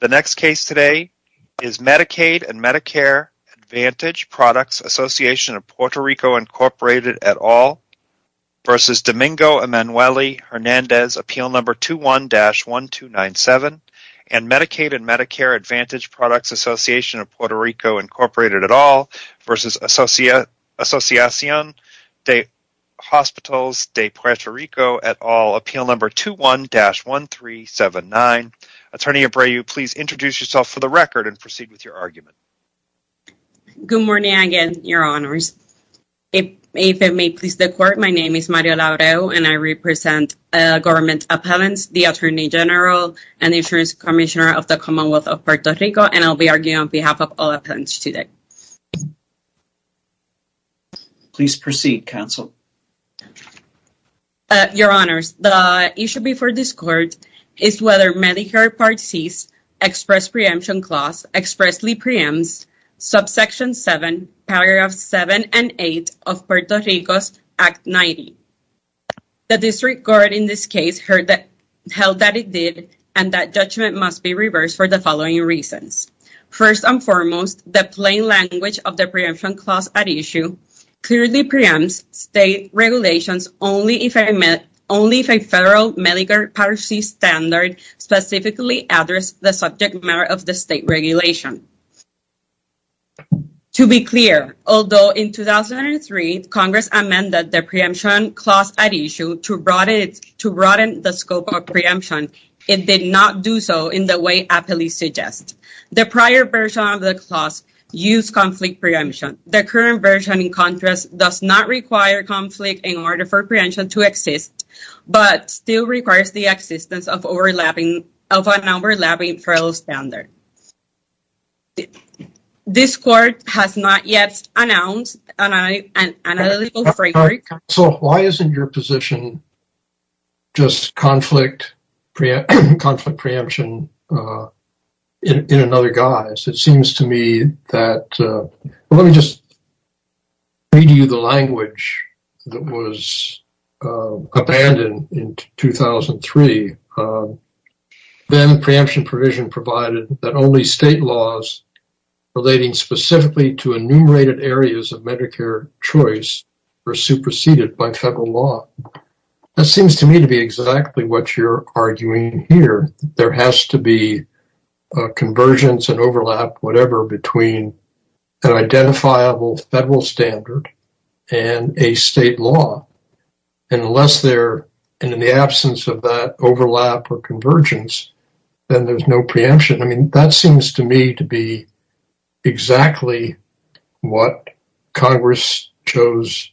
The next case today is Medicaid & Medicare Advantage Products Association of Puerto Rico Incorporated et al. v. Domingo Emanuelli-Hernandez, Appeal No. 21-1297, and Medicaid & Medicare Advantage Products Association of Puerto Rico Incorporated et al. v. Asociacion de Hospitals de Puerto Rico et al., Appeal No. 21-1379. Attorney Abreu, please introduce yourself for the record and proceed with your argument. Good morning again, your honors. If it may please the court, my name is Mario Labreau, and I represent Government Appellants, the Attorney General, and the Insurance Commissioner of the Commonwealth of Puerto Rico, and I'll Please proceed, counsel. Your honors, the issue before this court is whether Medicare Part C's express preemption clause expressly preempts subsection 7, paragraphs 7 and 8 of Puerto Rico's Act 90. The district court in this case held that it did, and that judgment must be reversed for the following reasons. First and foremost, the plain language of the preemption clause at issue clearly preempts state regulations only if a federal Medicare Part C standard specifically addressed the subject matter of the state regulation. To be clear, although in 2003 Congress amended the preemption clause at issue to broaden the scope of preemption, it did not do so in the way Appeal No. 21-1379 suggests. The prior version of the clause used conflict preemption. The current version, in contrast, does not require conflict in order for preemption to exist, but still requires the existence of an overlapping federal standard. This court has not yet announced an analytical framework. So, why isn't your position just conflict preemption in another guise? It seems to me that, let me just read you the language that was abandoned in 2003. Then preemption provision provided that only state laws relating specifically to enumerated areas of Medicare choice were superseded by federal law. That seems to me to be exactly what you're arguing here. There has to be a convergence and overlap, whatever, between an identifiable federal standard and a state law. Unless there, and in the absence of that overlap or convergence, then there's no preemption. That seems to me to be exactly what Congress chose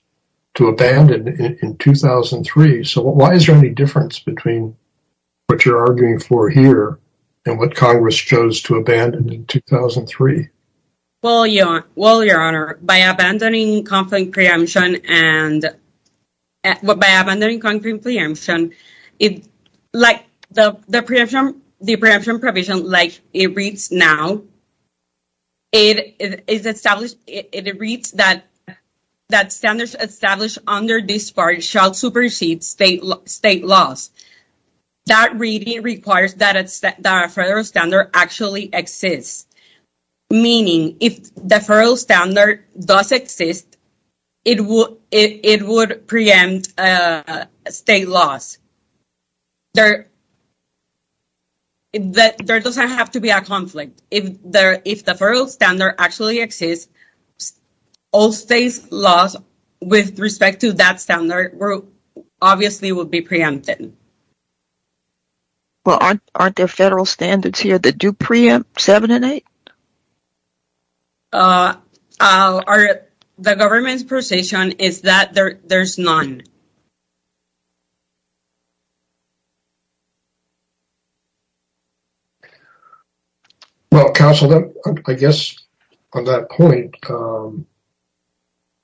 to abandon in 2003. So, why is there any difference between what you're arguing for here and what Congress chose to abandon in 2003? Well, Your Honor, by abandoning conflict preemption and by abandoning the preemption provision like it reads now, it reads that standards established under this part shall supersede state laws. That reading requires that a federal standard actually exists, meaning if the federal standard does exist, it would preempt state laws. It doesn't have to be a conflict. If the federal standard actually exists, all state laws with respect to that standard obviously would be preempted. Well, aren't there federal standards here that do preempt 7 and 8? The government's position is that there's none. Well, counsel, I guess on that point,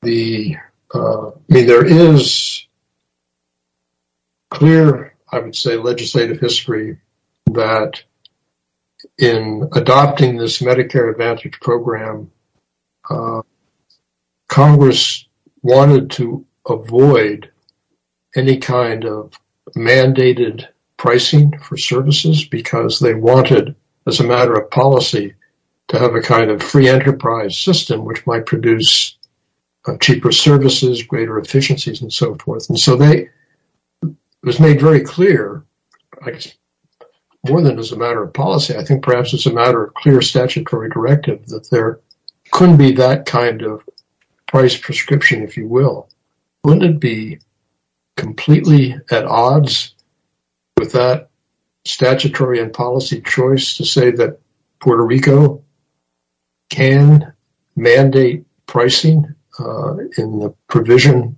there is clear, I would say, legislative history that in adopting this Medicare Advantage program, Congress wanted to avoid any kind of mandated pricing for services because they wanted, as a matter of policy, to have a kind of free enterprise system, which might produce cheaper services, greater efficiencies, and so forth. So, it was made very clear, more than as a matter of policy, I think perhaps as a matter of clear statutory directive that there couldn't be that kind of price prescription, if you will. Wouldn't it be completely at odds with that statutory and policy choice to say that Puerto Rico can mandate pricing in the provision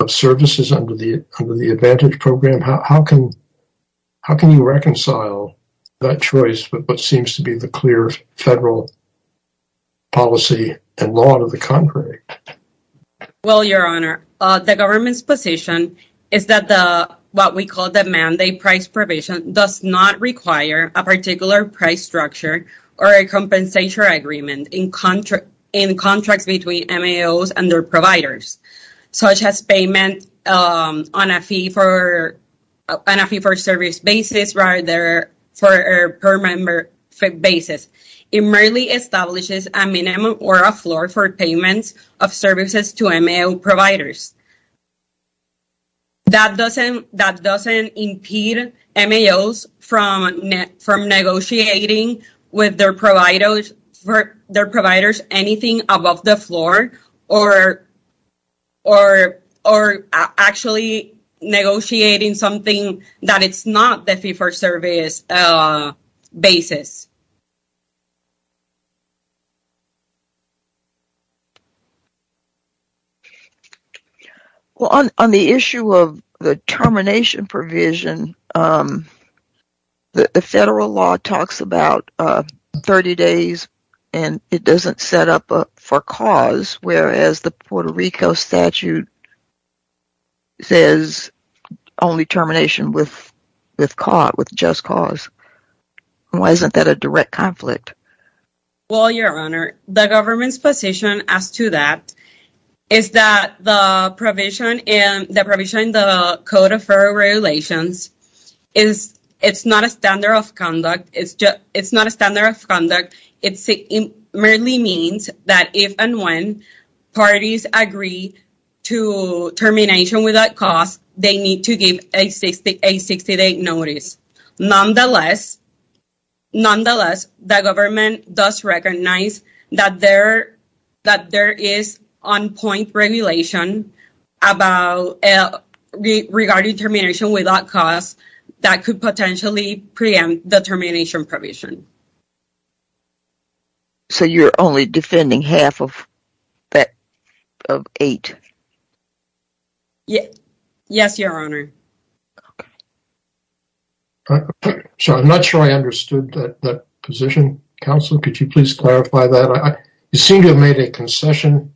of services under the Advantage program? How can you reconcile that choice with what seems to be the clear federal policy and law to the contrary? Well, Your Honor, the government's position is that what we call the mandate price provision does not require a particular price structure or a compensation agreement in contracts between MAOs and their providers, such as payment on a fee-for-service basis rather than per member basis. It merely establishes a minimum or a floor for payments of services to MAO providers. That doesn't impede MAOs from negotiating with their providers anything above the floor or actually negotiating something that is not the fee-for-service basis. Well, on the issue of the termination provision, the federal law talks about 30 days and it doesn't set up for cause, whereas the Puerto Rico statute says only termination with just cause. Why isn't that a direct conflict? Well, Your Honor, the government's position as to that is that the provision in the Code of Merit merely means that if and when parties agree to termination without cause, they need to give a 60-day notice. Nonetheless, the government does recognize that there is on-point regulation regarding termination without cause that could potentially preempt the termination provision. So, you're only defending half of that of eight? Yes, Your Honor. So, I'm not sure I understood that position. Counselor, could you please clarify that? You seem to have made a concession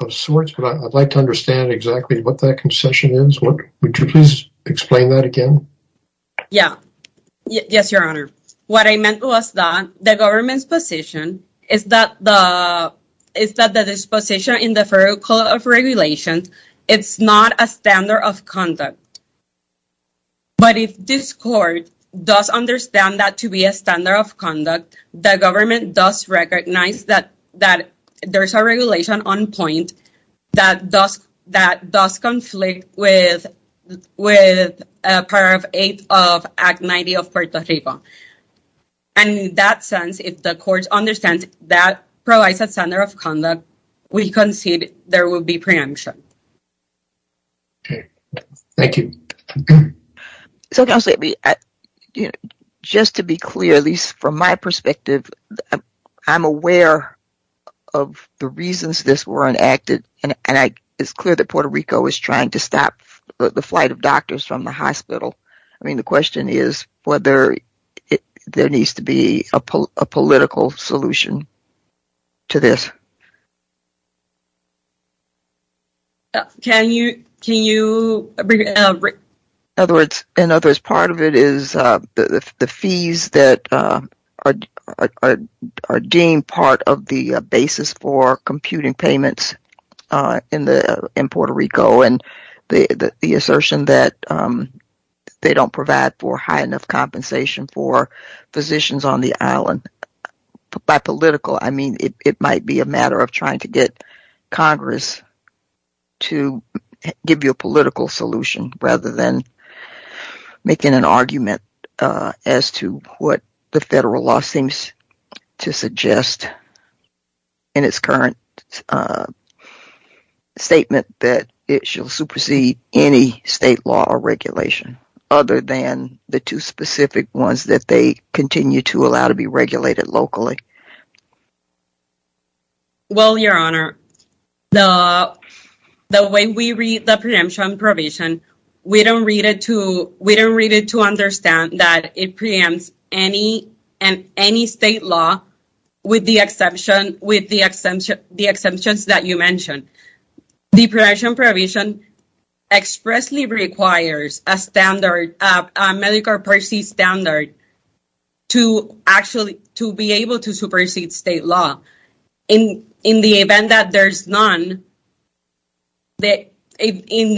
of sorts, but I'd like to understand exactly what that concession is. Would you please explain that again? Yes, Your Honor. What I meant was that the government's position is that the disposition in the Federal Code of Regulations is not a standard of conduct. But if this Court does understand that to be a standard of conduct, the government does recognize that there's a regulation on point that does conflict with Part VIII of Act 90 of Puerto Rico. And in that sense, if the Court understands that provides a standard of conduct, we concede there will be preemption. Okay, thank you. So, Counselor, just to be clear, at least from my perspective, I'm aware of the reasons this were enacted, and it's clear that Puerto Rico is trying to stop the flight of doctors from the hospital. I mean, the question is whether there needs to be a political solution to this. In other words, part of it is the fees that are deemed part of the basis for computing payments in Puerto Rico, and the assertion that they don't provide for high enough compensation for physicians on the island. By political, I mean it might be a matter of trying to get Congress to give you a political solution rather than making an argument as to what the federal law seems to suggest in its current statement that it shall supersede any state law or regulation, other than the two specific ones that they continue to allow to be regulated locally. Well, Your Honor, the way we read the preemption provision, we don't read it to understand that it preempts any state law with the exceptions that you mentioned. The preemption provision expressly requires a medical per se standard to actually be able to supersede state law. In the event that there's none, then they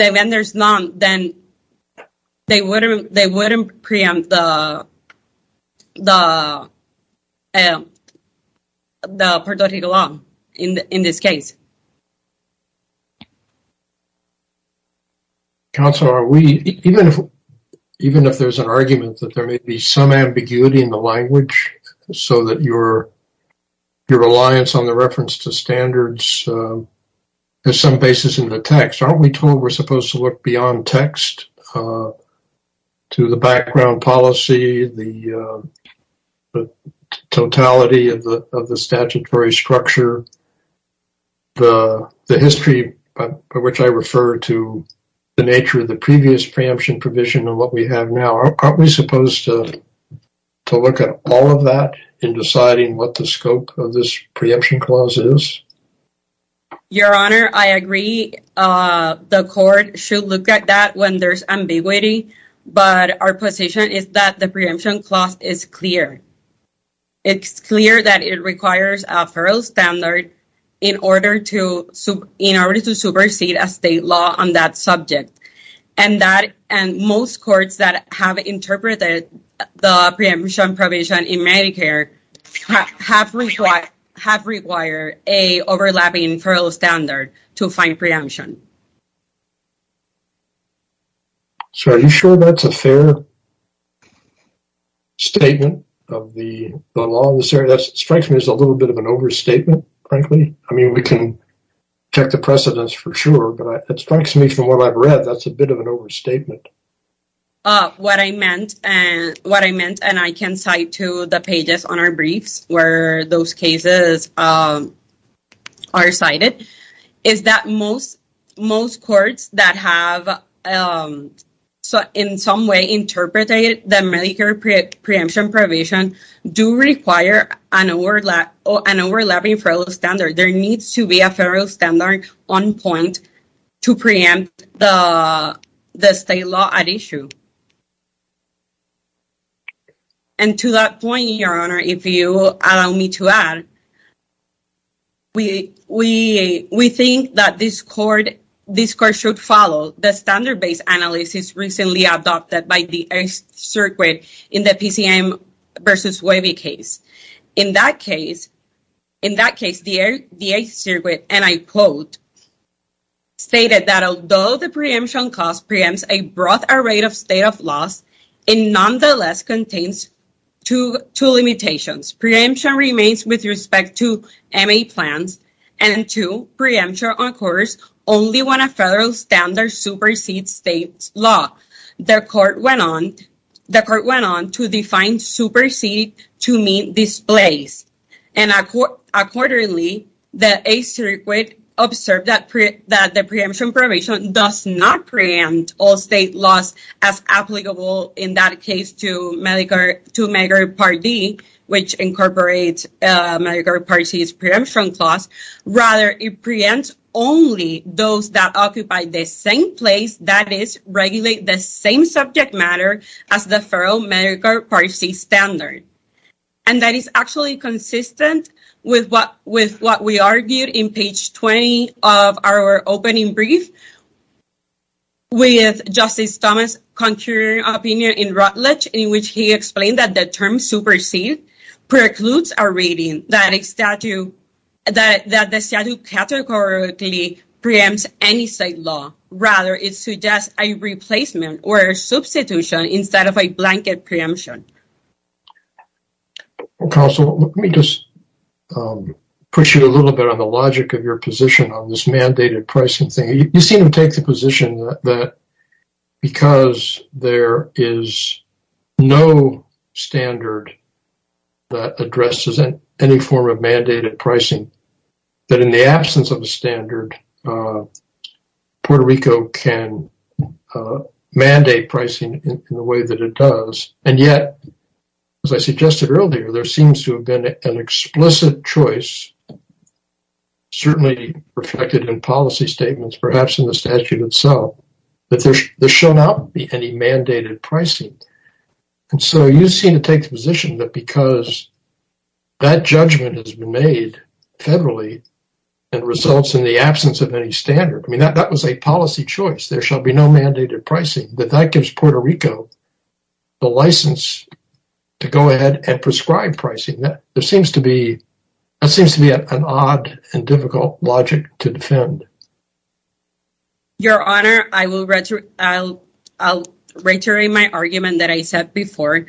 wouldn't preempt the Puerto Rico law in this case. Counselor, even if there's an argument that there may be some ambiguity in the language so that your reliance on the reference to standards has some basis in the text, aren't we told we're supposed to look beyond text to the background policy, the totality of the statutory structure, the history by which I refer to the nature of the previous preemption provision and what we have now? Aren't we supposed to look at all of that in deciding what the scope of this preemption clause is? Your Honor, I agree the court should look at that when there's ambiguity, but our position is that the preemption clause is clear. It's clear that it requires a federal standard in order to supersede a state law on that subject, and most courts that have interpreted the preemption provision in Medicare have required an overlapping federal standard to find preemption. So, are you sure that's a fair statement of the law? That strikes me as a little bit of an overstatement, frankly. I mean, we can check the precedence for sure, but it strikes me from what I've read that's a bit of an overstatement. What I meant, and I can cite to the pages on our briefs where those cases are cited, is that most courts that have in some way interpreted the Medicare preemption provision do require an overlapping federal standard. There needs to be a federal standard on point to preempt the state law at issue. And to that point, Your Honor, if you allow me to add, we think that this court should follow the standard-based analysis recently adopted by the 8th Circuit in the PCM v. Webby case. In that case, the 8th Circuit, and I quote, stated that although the preemption clause preempts a broad array of state of laws, it nonetheless contains two limitations. Preemption remains with respect to MA plans, and two, preemption, of course, only when a federal standard supersedes state law. The court went on to define supersede to mean displace. And accordingly, the 8th Circuit observed that the preemption provision does not preempt all state laws as applicable in that case to Medicare Part D, which incorporates Medicare Part C's preemption clause. Rather, it preempts only those that occupy the same place, that is, regulate the same subject matter as the federal Medicare Part C standard. And that is actually consistent with what we argued in page 20 of our that the term supersede precludes a reading that the statute categorically preempts any state law. Rather, it suggests a replacement or a substitution instead of a blanket preemption. Counsel, let me just push you a little bit on the logic of your position on this mandated pricing thing. You seem to take the position that because there is no standard that addresses any form of mandated pricing, that in the absence of a standard, Puerto Rico can mandate pricing in the way that it does. And yet, as I suggested earlier, there seems to have been an explicit choice, certainly reflected in policy statements, perhaps in the statute itself, that there shall not be any mandated pricing. And so you seem to take the position that because that judgment has been made federally and results in the absence of any standard, I mean, that was a policy choice, there shall be no mandated pricing, that that gives Puerto Rico the license to go ahead and prescribe pricing. That seems to be an odd and difficult logic to defend. Your Honor, I will reiterate my argument that I said before.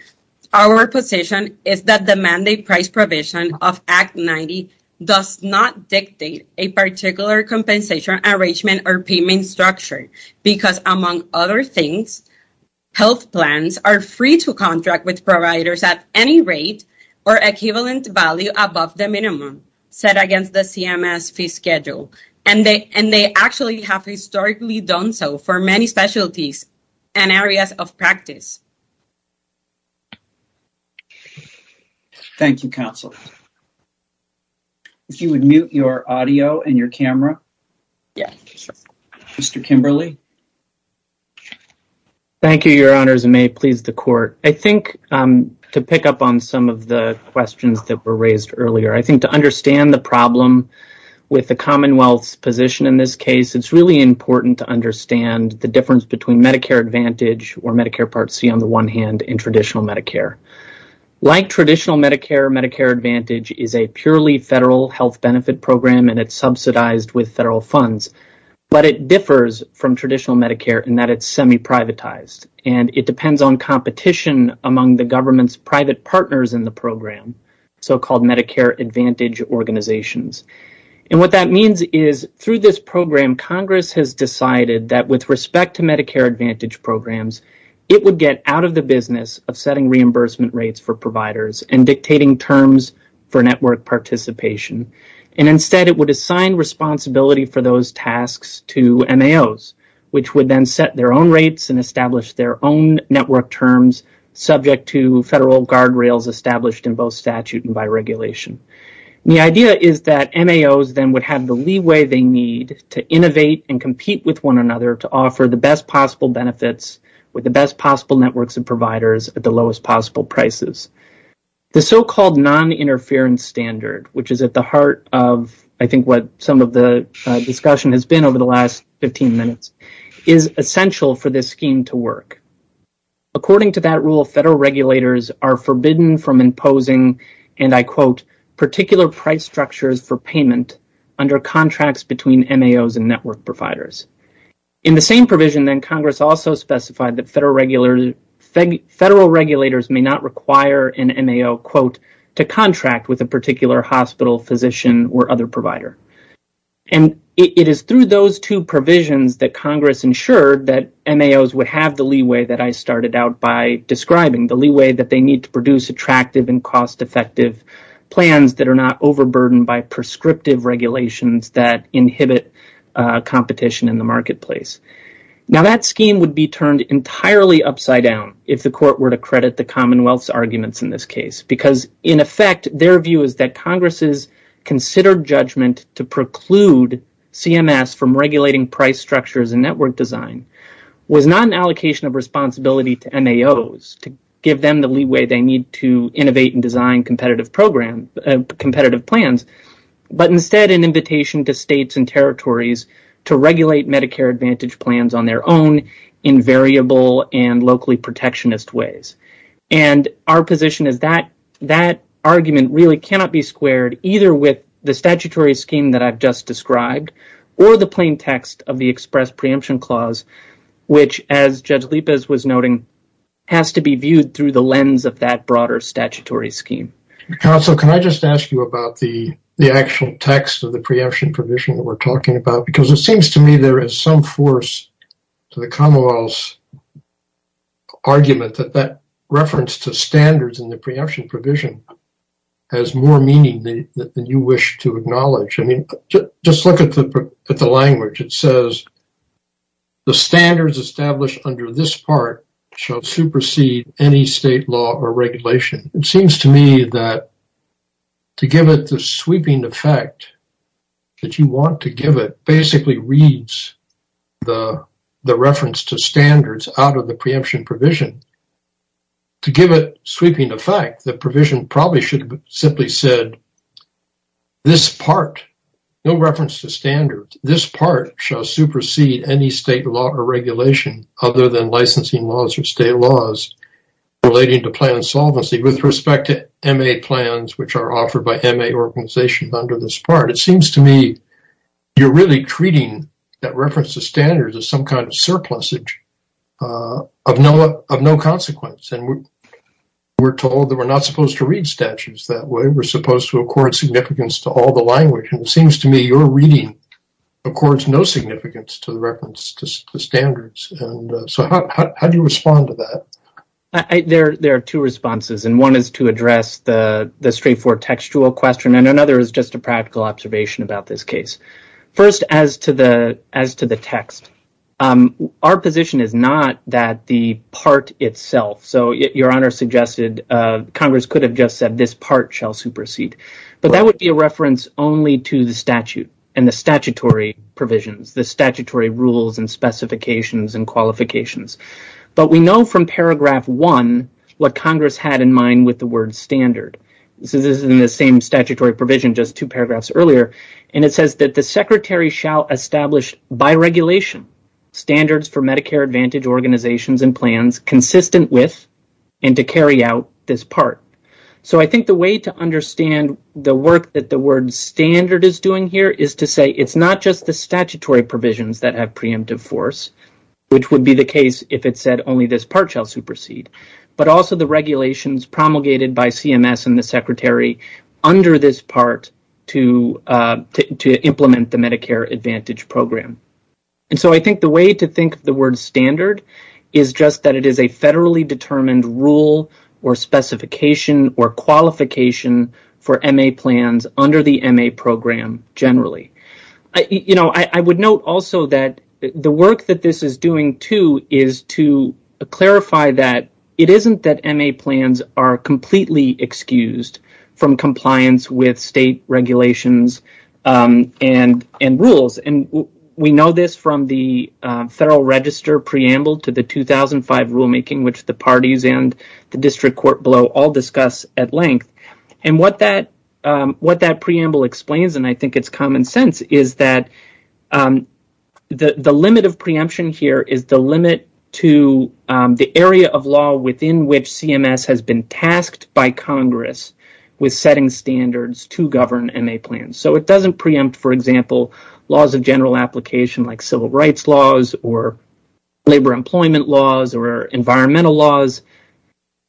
Our position is that the mandate price provision of Act 90 does not dictate a particular compensation arrangement or payment structure because, among other things, health plans are free to contract with providers at any rate or equivalent value above the minimum set against the CMS fee schedule. And they actually have historically done so for many specialties and areas of practice. Thank you, Counsel. If you would mute your audio and your camera. Yes. Mr. Kimberley. Thank you, Your Honors, and may it please the Court. I think, to pick up on some of the questions that were raised earlier, I think to understand the problem with the Commonwealth's position in this case, it's really important to understand the difference between Medicare Advantage or Medicare Part C on the one hand and traditional Medicare. Like traditional Medicare, Medicare Advantage is a purely federal health benefit program and it's subsidized with federal funds, but it differs from traditional Medicare in that it's semi-privatized and it depends on competition among the government's private partners in the program, so-called Medicare Advantage organizations. What that means is through this program, Congress has decided that with respect to Medicare Advantage programs, it would get out of the business of setting reimbursement rates for providers and dictating terms for network participation. And instead, it would assign responsibility for those tasks to MAOs, which would then set their own rates and establish their own network terms subject to federal guardrails established in both statute and by regulation. The idea is that MAOs then would have the leeway they need to innovate and compete with one another to offer the best possible benefits with the best possible networks and the lowest possible prices. The so-called non-interference standard, which is at the heart of I think what some of the discussion has been over the last 15 minutes, is essential for this scheme to work. According to that rule, federal regulators are forbidden from imposing, and I quote, particular price structures for payment under contracts between MAOs and network providers. In the same provision, Congress also specified that federal regulators may not require an MAO, quote, to contract with a particular hospital physician or other provider. And it is through those two provisions that Congress ensured that MAOs would have the leeway that I started out by describing, the leeway that they need to produce attractive and cost-effective plans that are not overburdened by prescriptive regulations that inhibit competition in the marketplace. Now, that scheme would be turned entirely upside down if the court were to credit the Commonwealth's arguments in this case because in effect, their view is that Congress has considered judgment to preclude CMS from regulating price structures and network design, was not an allocation of responsibility to MAOs to give them the leeway they need to innovate and competitive plans, but instead an invitation to states and territories to regulate Medicare Advantage plans on their own in variable and locally protectionist ways. And our position is that that argument really cannot be squared either with the statutory scheme that I've just described or the plain text of the express preemption clause, which as Judge Lipez was noting, has to be viewed through the lens of that broader statutory scheme. Counsel, can I just ask you about the actual text of the preemption provision that we're talking about? Because it seems to me there is some force to the Commonwealth's argument that that reference to standards in the preemption provision has more meaning than you wish to acknowledge. I mean, just look at the language. It says, the standards established under this part shall supersede any state law or regulation. It seems to me that to give it the sweeping effect that you want to give it basically reads the reference to standards out of the preemption provision. To give it sweeping effect, the provision probably should have simply said, this part, no reference to standards, this part shall supersede any state law or regulation other than licensing laws or state laws relating to plan solvency with respect to MA plans, which are offered by MA organizations under this part. It seems to me you're really treating that reference to standards as some kind of surplusage of no consequence. And we're told that we're not supposed to read statutes that way. We're supposed to accord significance to all the language. And it seems to me your reading accords no significance to the reference to standards. And so how do you respond to that? There are two responses. And one is to address the straightforward textual question. And another is just a practical observation about this case. First, as to the text, our position is not that the part itself, so your Honor suggested Congress could have just said this part shall supersede. But that would be a reference only to the statute and the statutory provisions, the statutory rules and specifications and qualifications. But we know from paragraph one what Congress had in mind with the word standard. This is in the same statutory provision, just two paragraphs earlier. And it says that the secretary shall establish by regulation standards for Medicare Advantage organizations and plans consistent with and to carry out this part. So I think the way to understand the work that the word standard is doing here is to say it's not just the statutory provisions that have preemptive force, which would be the case if it said only this part shall supersede, but also the regulations promulgated by CMS and the secretary under this part to implement the Medicare Advantage program. And so I think the way to think of the word standard is just that it is a federally determined rule or specification or qualification for MA plans under the MA program generally. You know, I would note also that the work that this is doing too is to clarify that it isn't that MA plans are completely excused from compliance with state regulations and rules. We know this from the Federal Register preamble to the 2005 rulemaking, which the parties and the district court below all discuss at length. And what that preamble explains, and I think it's common sense, is that the limit of preemption here is the limit to the area of law within which CMS has been tasked by Congress with setting standards to govern MA plans. So it doesn't preempt, for example, laws of general application like civil rights laws or labor employment laws or environmental laws.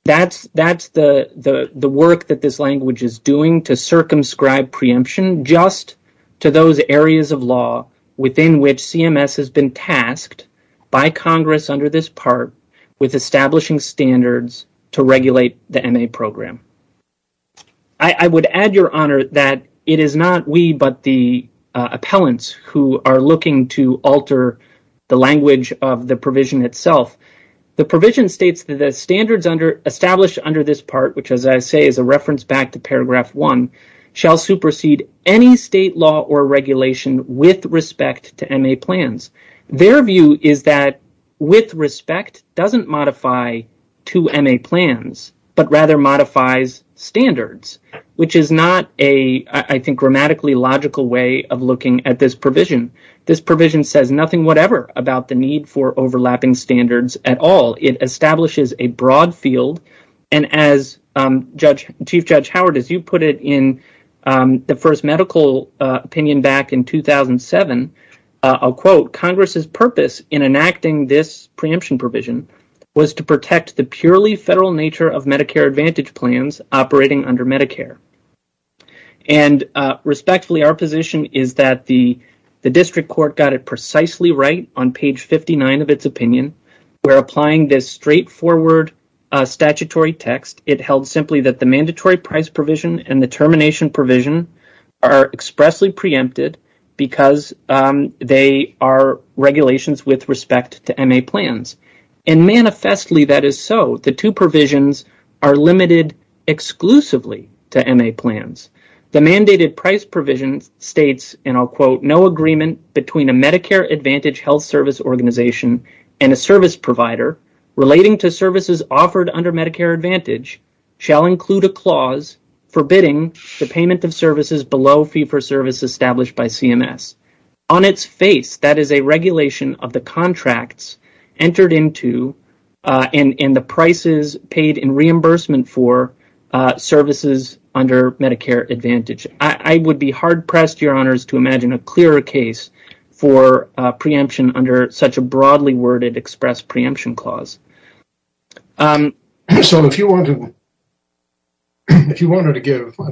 That's the work that this language is doing to circumscribe preemption just to those areas of law within which CMS has been tasked by Congress under this part with establishing standards to regulate the MA program. I would add, Your Honor, that it is not we but the appellants who are looking to alter the language of the provision itself. The provision states that the standards established under this part, which as I say is a reference back to paragraph 1, shall supersede any state law or regulation with respect to MA plans. Their view is that with respect doesn't modify to MA plans but rather modifies standards, which is not a, I think, grammatically logical way of looking at this provision. This provision says nothing whatever about the need for overlapping standards at all. It establishes a broad field and as Chief Judge Howard, as you put it in the first medical opinion back in 2007, I'll quote, Congress's purpose in enacting this protects the purely federal nature of Medicare Advantage plans operating under Medicare. Respectfully, our position is that the district court got it precisely right on page 59 of its opinion. We're applying this straightforward statutory text. It held simply that the mandatory price provision and the termination provision are expressly preempted because they are regulations with respect to MA plans. Manifestly, that is so. The two provisions are limited exclusively to MA plans. The mandated price provision states, and I'll quote, no agreement between a Medicare Advantage health service organization and a service provider relating to services offered under Medicare Advantage shall include a clause forbidding the payment of services below fee for service established by CMS. On its face, that is a regulation of the contracts entered into and the prices paid in reimbursement for services under Medicare Advantage. I would be hard-pressed, Your Honours, to imagine a clearer case for preemption under such a broadly worded express preemption clause. If you wanted to give, I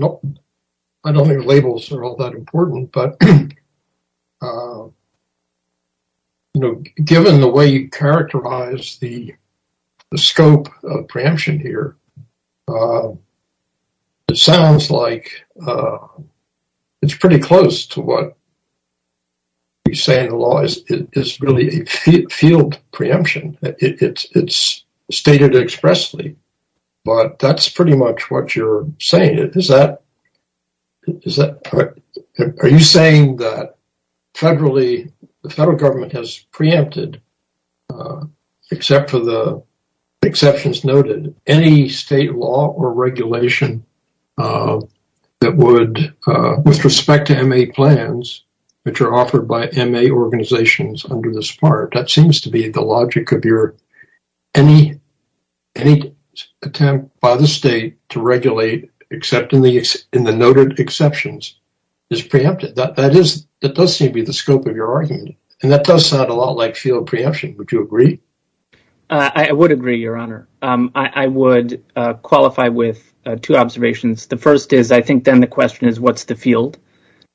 don't think labels are all that important, but given the way you characterize the scope of preemption here, it sounds like it's pretty to what you say in the law is really a field preemption. It's stated expressly, but that's pretty much what you're saying. Are you saying that the federal government has preempted, except for the exceptions noted, any state law or regulation of that would, with respect to MA plans, which are offered by MA organizations under this part, that seems to be the logic of your, any attempt by the state to regulate except in the noted exceptions is preempted. That does seem to be the scope of your argument, and that does sound a lot like field preemption. Would you agree? I would agree, Your Honour. I would qualify with two observations. The first is I think then the question is what's the field,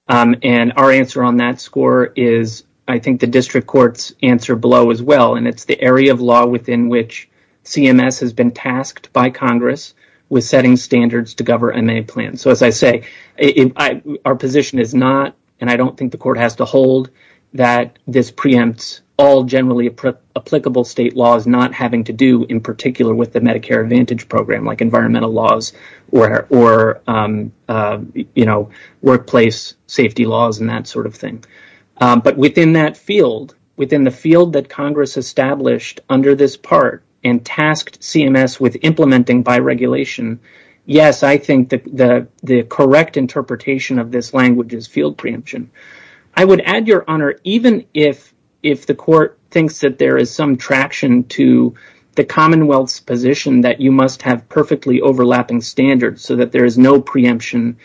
and our answer on that score is I think the district court's answer below as well, and it's the area of law within which CMS has been tasked by Congress with setting standards to govern MA plans. As I say, our position is not, and I don't think the court has to hold, that this preempts all generally applicable state laws not having to do in particular with the Medicare Advantage program like environmental laws or workplace safety laws and that sort of thing, but within that field, within the field that Congress established under this part and tasked CMS with implementing by regulation, yes, I think the correct interpretation of this language is field preemption. I would add, Your Honour, even if the court thinks that there is some traction to the Commonwealth's position that you must have perfectly overlapping standards so that there is no preemption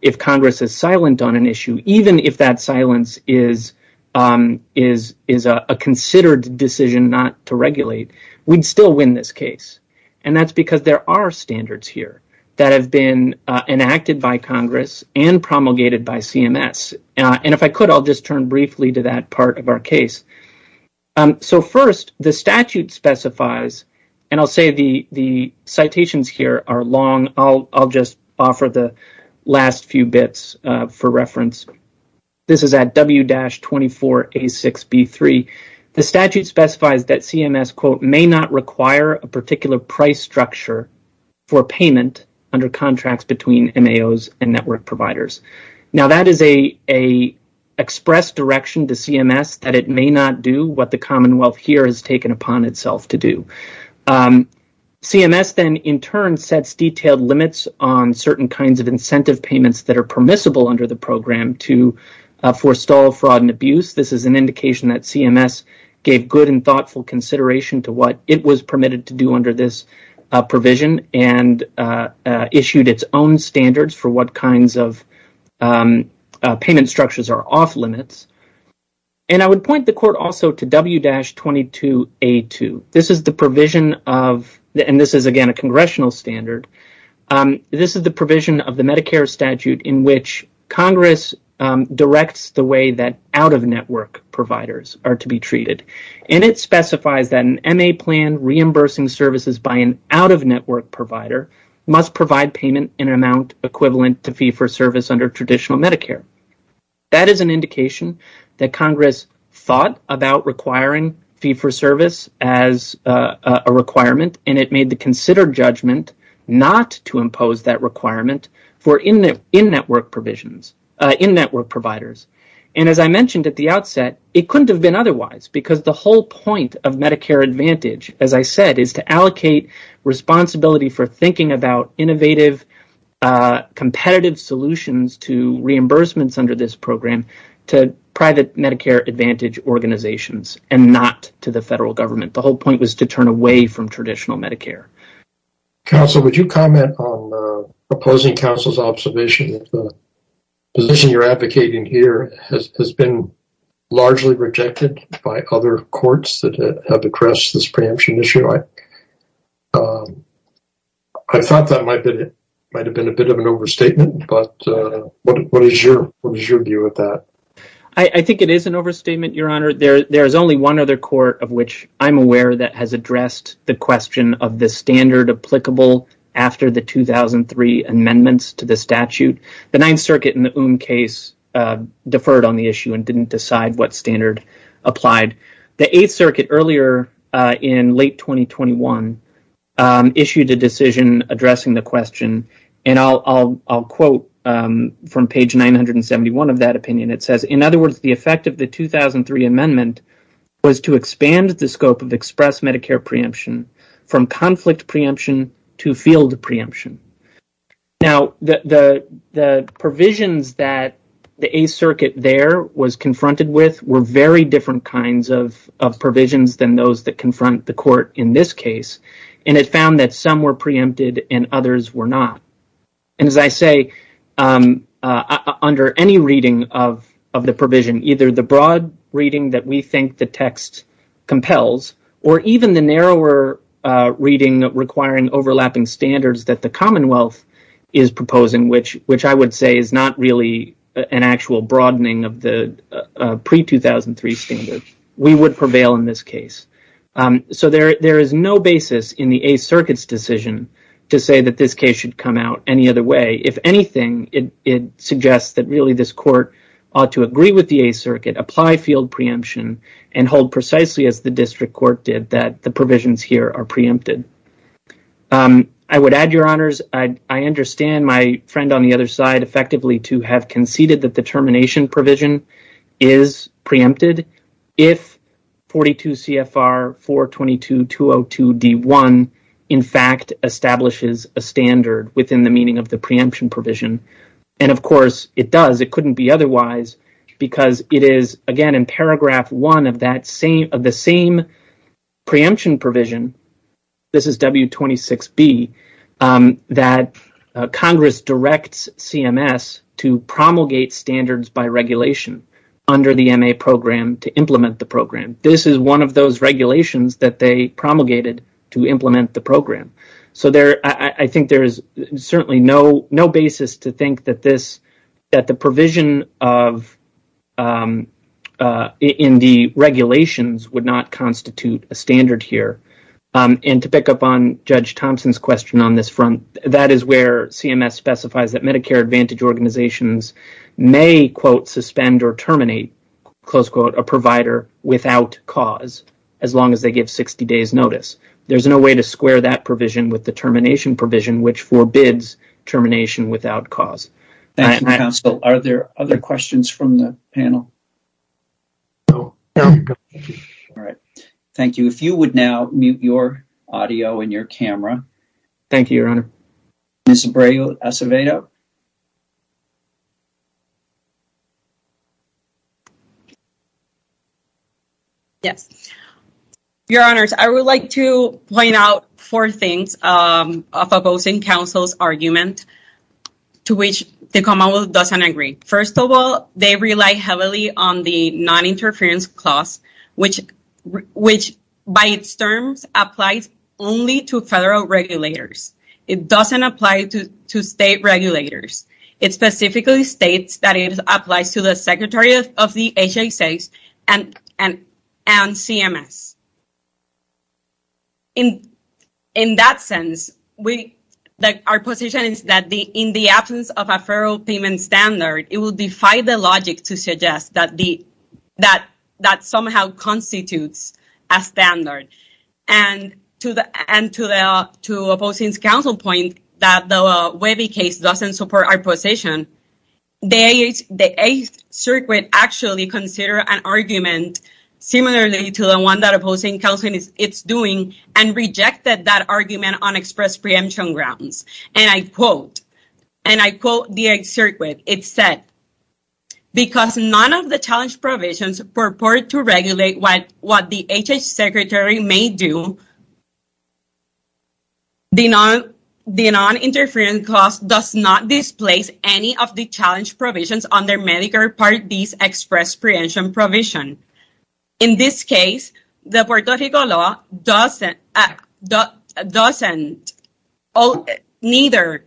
if Congress is silent on an issue, even if that silence is a considered decision not to regulate, we'd still win this case, and that's because there are standards here that have been enacted by Congress and promulgated by CMS. If I could, I'll just turn briefly to that statute specifies, and I'll say the citations here are long. I'll just offer the last few bits for reference. This is at W-24A6B3. The statute specifies that CMS, quote, may not require a particular price structure for payment under contracts between MAOs and network providers. Now, that is an express direction to CMS that it may not do what the Commonwealth here has to do. CMS then, in turn, sets detailed limits on certain kinds of incentive payments that are permissible under the program to forestall fraud and abuse. This is an indication that CMS gave good and thoughtful consideration to what it was permitted to do under this provision and issued its own standards for what kinds of payment structures are off limits, and I would point the court also to W-22A2. This is, again, a congressional standard. This is the provision of the Medicare statute in which Congress directs the way that out-of-network providers are to be treated, and it specifies that an MA plan reimbursing services by an out-of-network provider must provide payment in an amount equivalent to fee for service under traditional Medicare. That is an indication that Congress thought about requiring fee for service as a requirement, and it made the considered judgment not to impose that requirement in network providers. As I mentioned at the outset, it couldn't have been otherwise because the whole point of Medicare Advantage, as I said, is to allocate responsibility for thinking about innovative, competitive solutions to reimbursements under this program to private Medicare Advantage organizations and not to the federal government. The whole point was to turn away from traditional Medicare. Counsel, would you comment on opposing counsel's observation that the position you're advocating here has been largely rejected by other courts that have addressed this preemption issue? I thought that might have been a bit of an overstatement, but what is your view of that? I think it is an overstatement, Your Honor. There's only one other court of which I'm aware that has addressed the question of the standard applicable after the 2003 amendments to the statute. The Ninth Circuit in the Oom case deferred on the issue and didn't decide what standard applied. The Eighth Circuit earlier in late 2021 issued a decision addressing the question, and I'll quote from page 971 of that opinion. It says, in other words, the effect of the 2003 amendment was to expand the scope of express Medicare preemption from conflict preemption to field preemption. Now, the provisions that the Eighth Circuit there was confronted with were very different kinds of provisions than those that confront the court in this case, and it found that some were preempted and others were not. As I say, under any reading of the provision, either the broad reading that we think the text compels or even the narrower reading requiring overlapping standards that the Commonwealth is proposing, which I would say is not really an actual broadening of the pre-2003 standard, we would prevail in this case. So there is no basis in the Eighth Circuit's decision to say that this case should come out any other way. If anything, it suggests that really this court ought to agree with the Eighth Circuit, apply field preemption, and hold precisely as the district court did that the provisions here are preempted. I would add, Your Honors, I understand my friend on the other side effectively to have conceded that the termination provision is preempted if 42 CFR 422.202.d.1 in fact establishes a standard within the meaning of the preemption provision, and of course it does. It couldn't be otherwise because it is, again, in paragraph one of that to promulgate standards by regulation under the M.A. program to implement the program. This is one of those regulations that they promulgated to implement the program. So I think there is certainly no basis to think that the provision in the regulations would not constitute a standard here. And to pick up on Judge Thompson's question on this front, that is where CMS specifies that Medicare Advantage organizations may quote suspend or terminate close quote a provider without cause as long as they give 60 days notice. There's no way to square that provision with the termination provision which forbids termination without cause. Thank you, counsel. Are there other questions from the panel? No. All right. Thank you. If you would now mute your audio and your camera. Thank you, your honor. Ms. Abreu Acevedo. Yes. Your honors, I would like to point out four things of opposing counsel's argument to which the commonwealth doesn't agree. First of all, they rely heavily on the non-interference clause which by its terms applies only to federal regulators. It doesn't apply to state regulators. It specifically states that it applies to the secretary of the HHS and CMS. In that sense, our position is that in the absence of a federal payment standard, it will defy the logic to suggest that somehow constitutes a standard. To opposing counsel's point that the Webby case doesn't support our position, the Eighth Circuit actually considered an argument similarly to the one that opposing counsel is doing and rejected that argument on because none of the challenge provisions purport to regulate what the HHS secretary may do. The non-interference clause does not displace any of the challenge provisions under Medicare Part D's express preemption provision. In this case, the Puerto Rico law doesn't or neither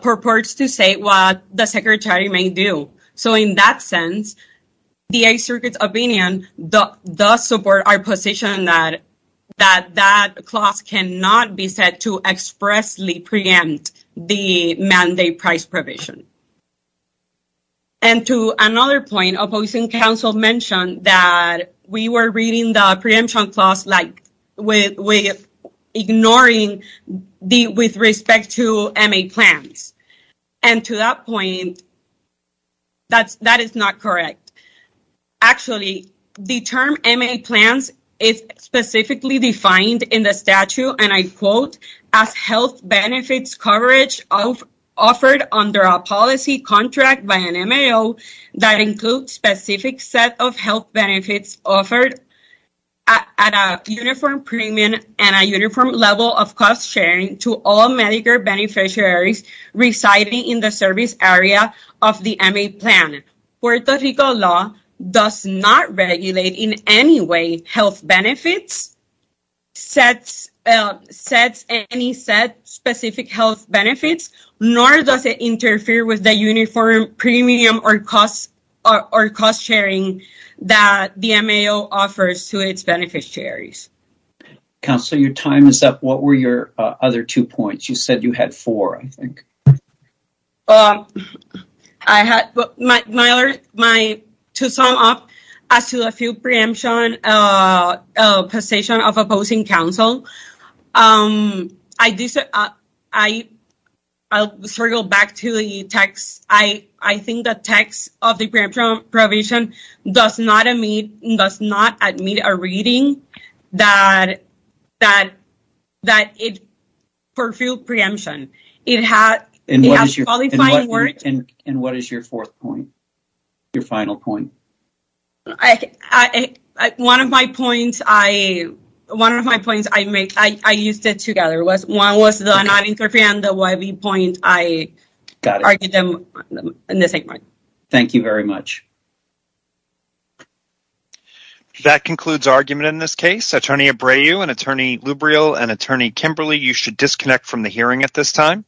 purports to say what the secretary may do. In that sense, the Eighth Circuit's opinion does support our position that that clause cannot be said to expressly preempt the mandate price provision. To another point, opposing counsel mentioned that we were reading the preemption clause with respect to MA plans. To that point, that is not correct. Actually, the term MA plans is specifically defined in the statute and I quote, as health benefits coverage offered under a policy contract by an MAO that includes specific set of health benefits offered at a uniform premium and a uniform level of cost sharing to all Medicare beneficiaries residing in the service area of the MA plan. Puerto Rico law does not regulate in any way health benefits, sets any set specific health benefits, nor does it interfere with the uniform premium or cost sharing that the MAO offers to its beneficiaries. Counselor, your time is up. What were your other two points? You said you had four, I think. To sum up, as to the field preemption position of opposing counsel, I'll circle back to the text. I think the text of the preemption provision does not admit a reading that it fulfilled preemption. And what is your fourth point? Your final point? One of my points, I used it together. One was not to interfere and the other point, I argued them in the same way. Thank you very much. That concludes argument in this case. Attorney Abreu and Attorney Lubriel and Attorney Kimberly, you should disconnect from the hearing at this time.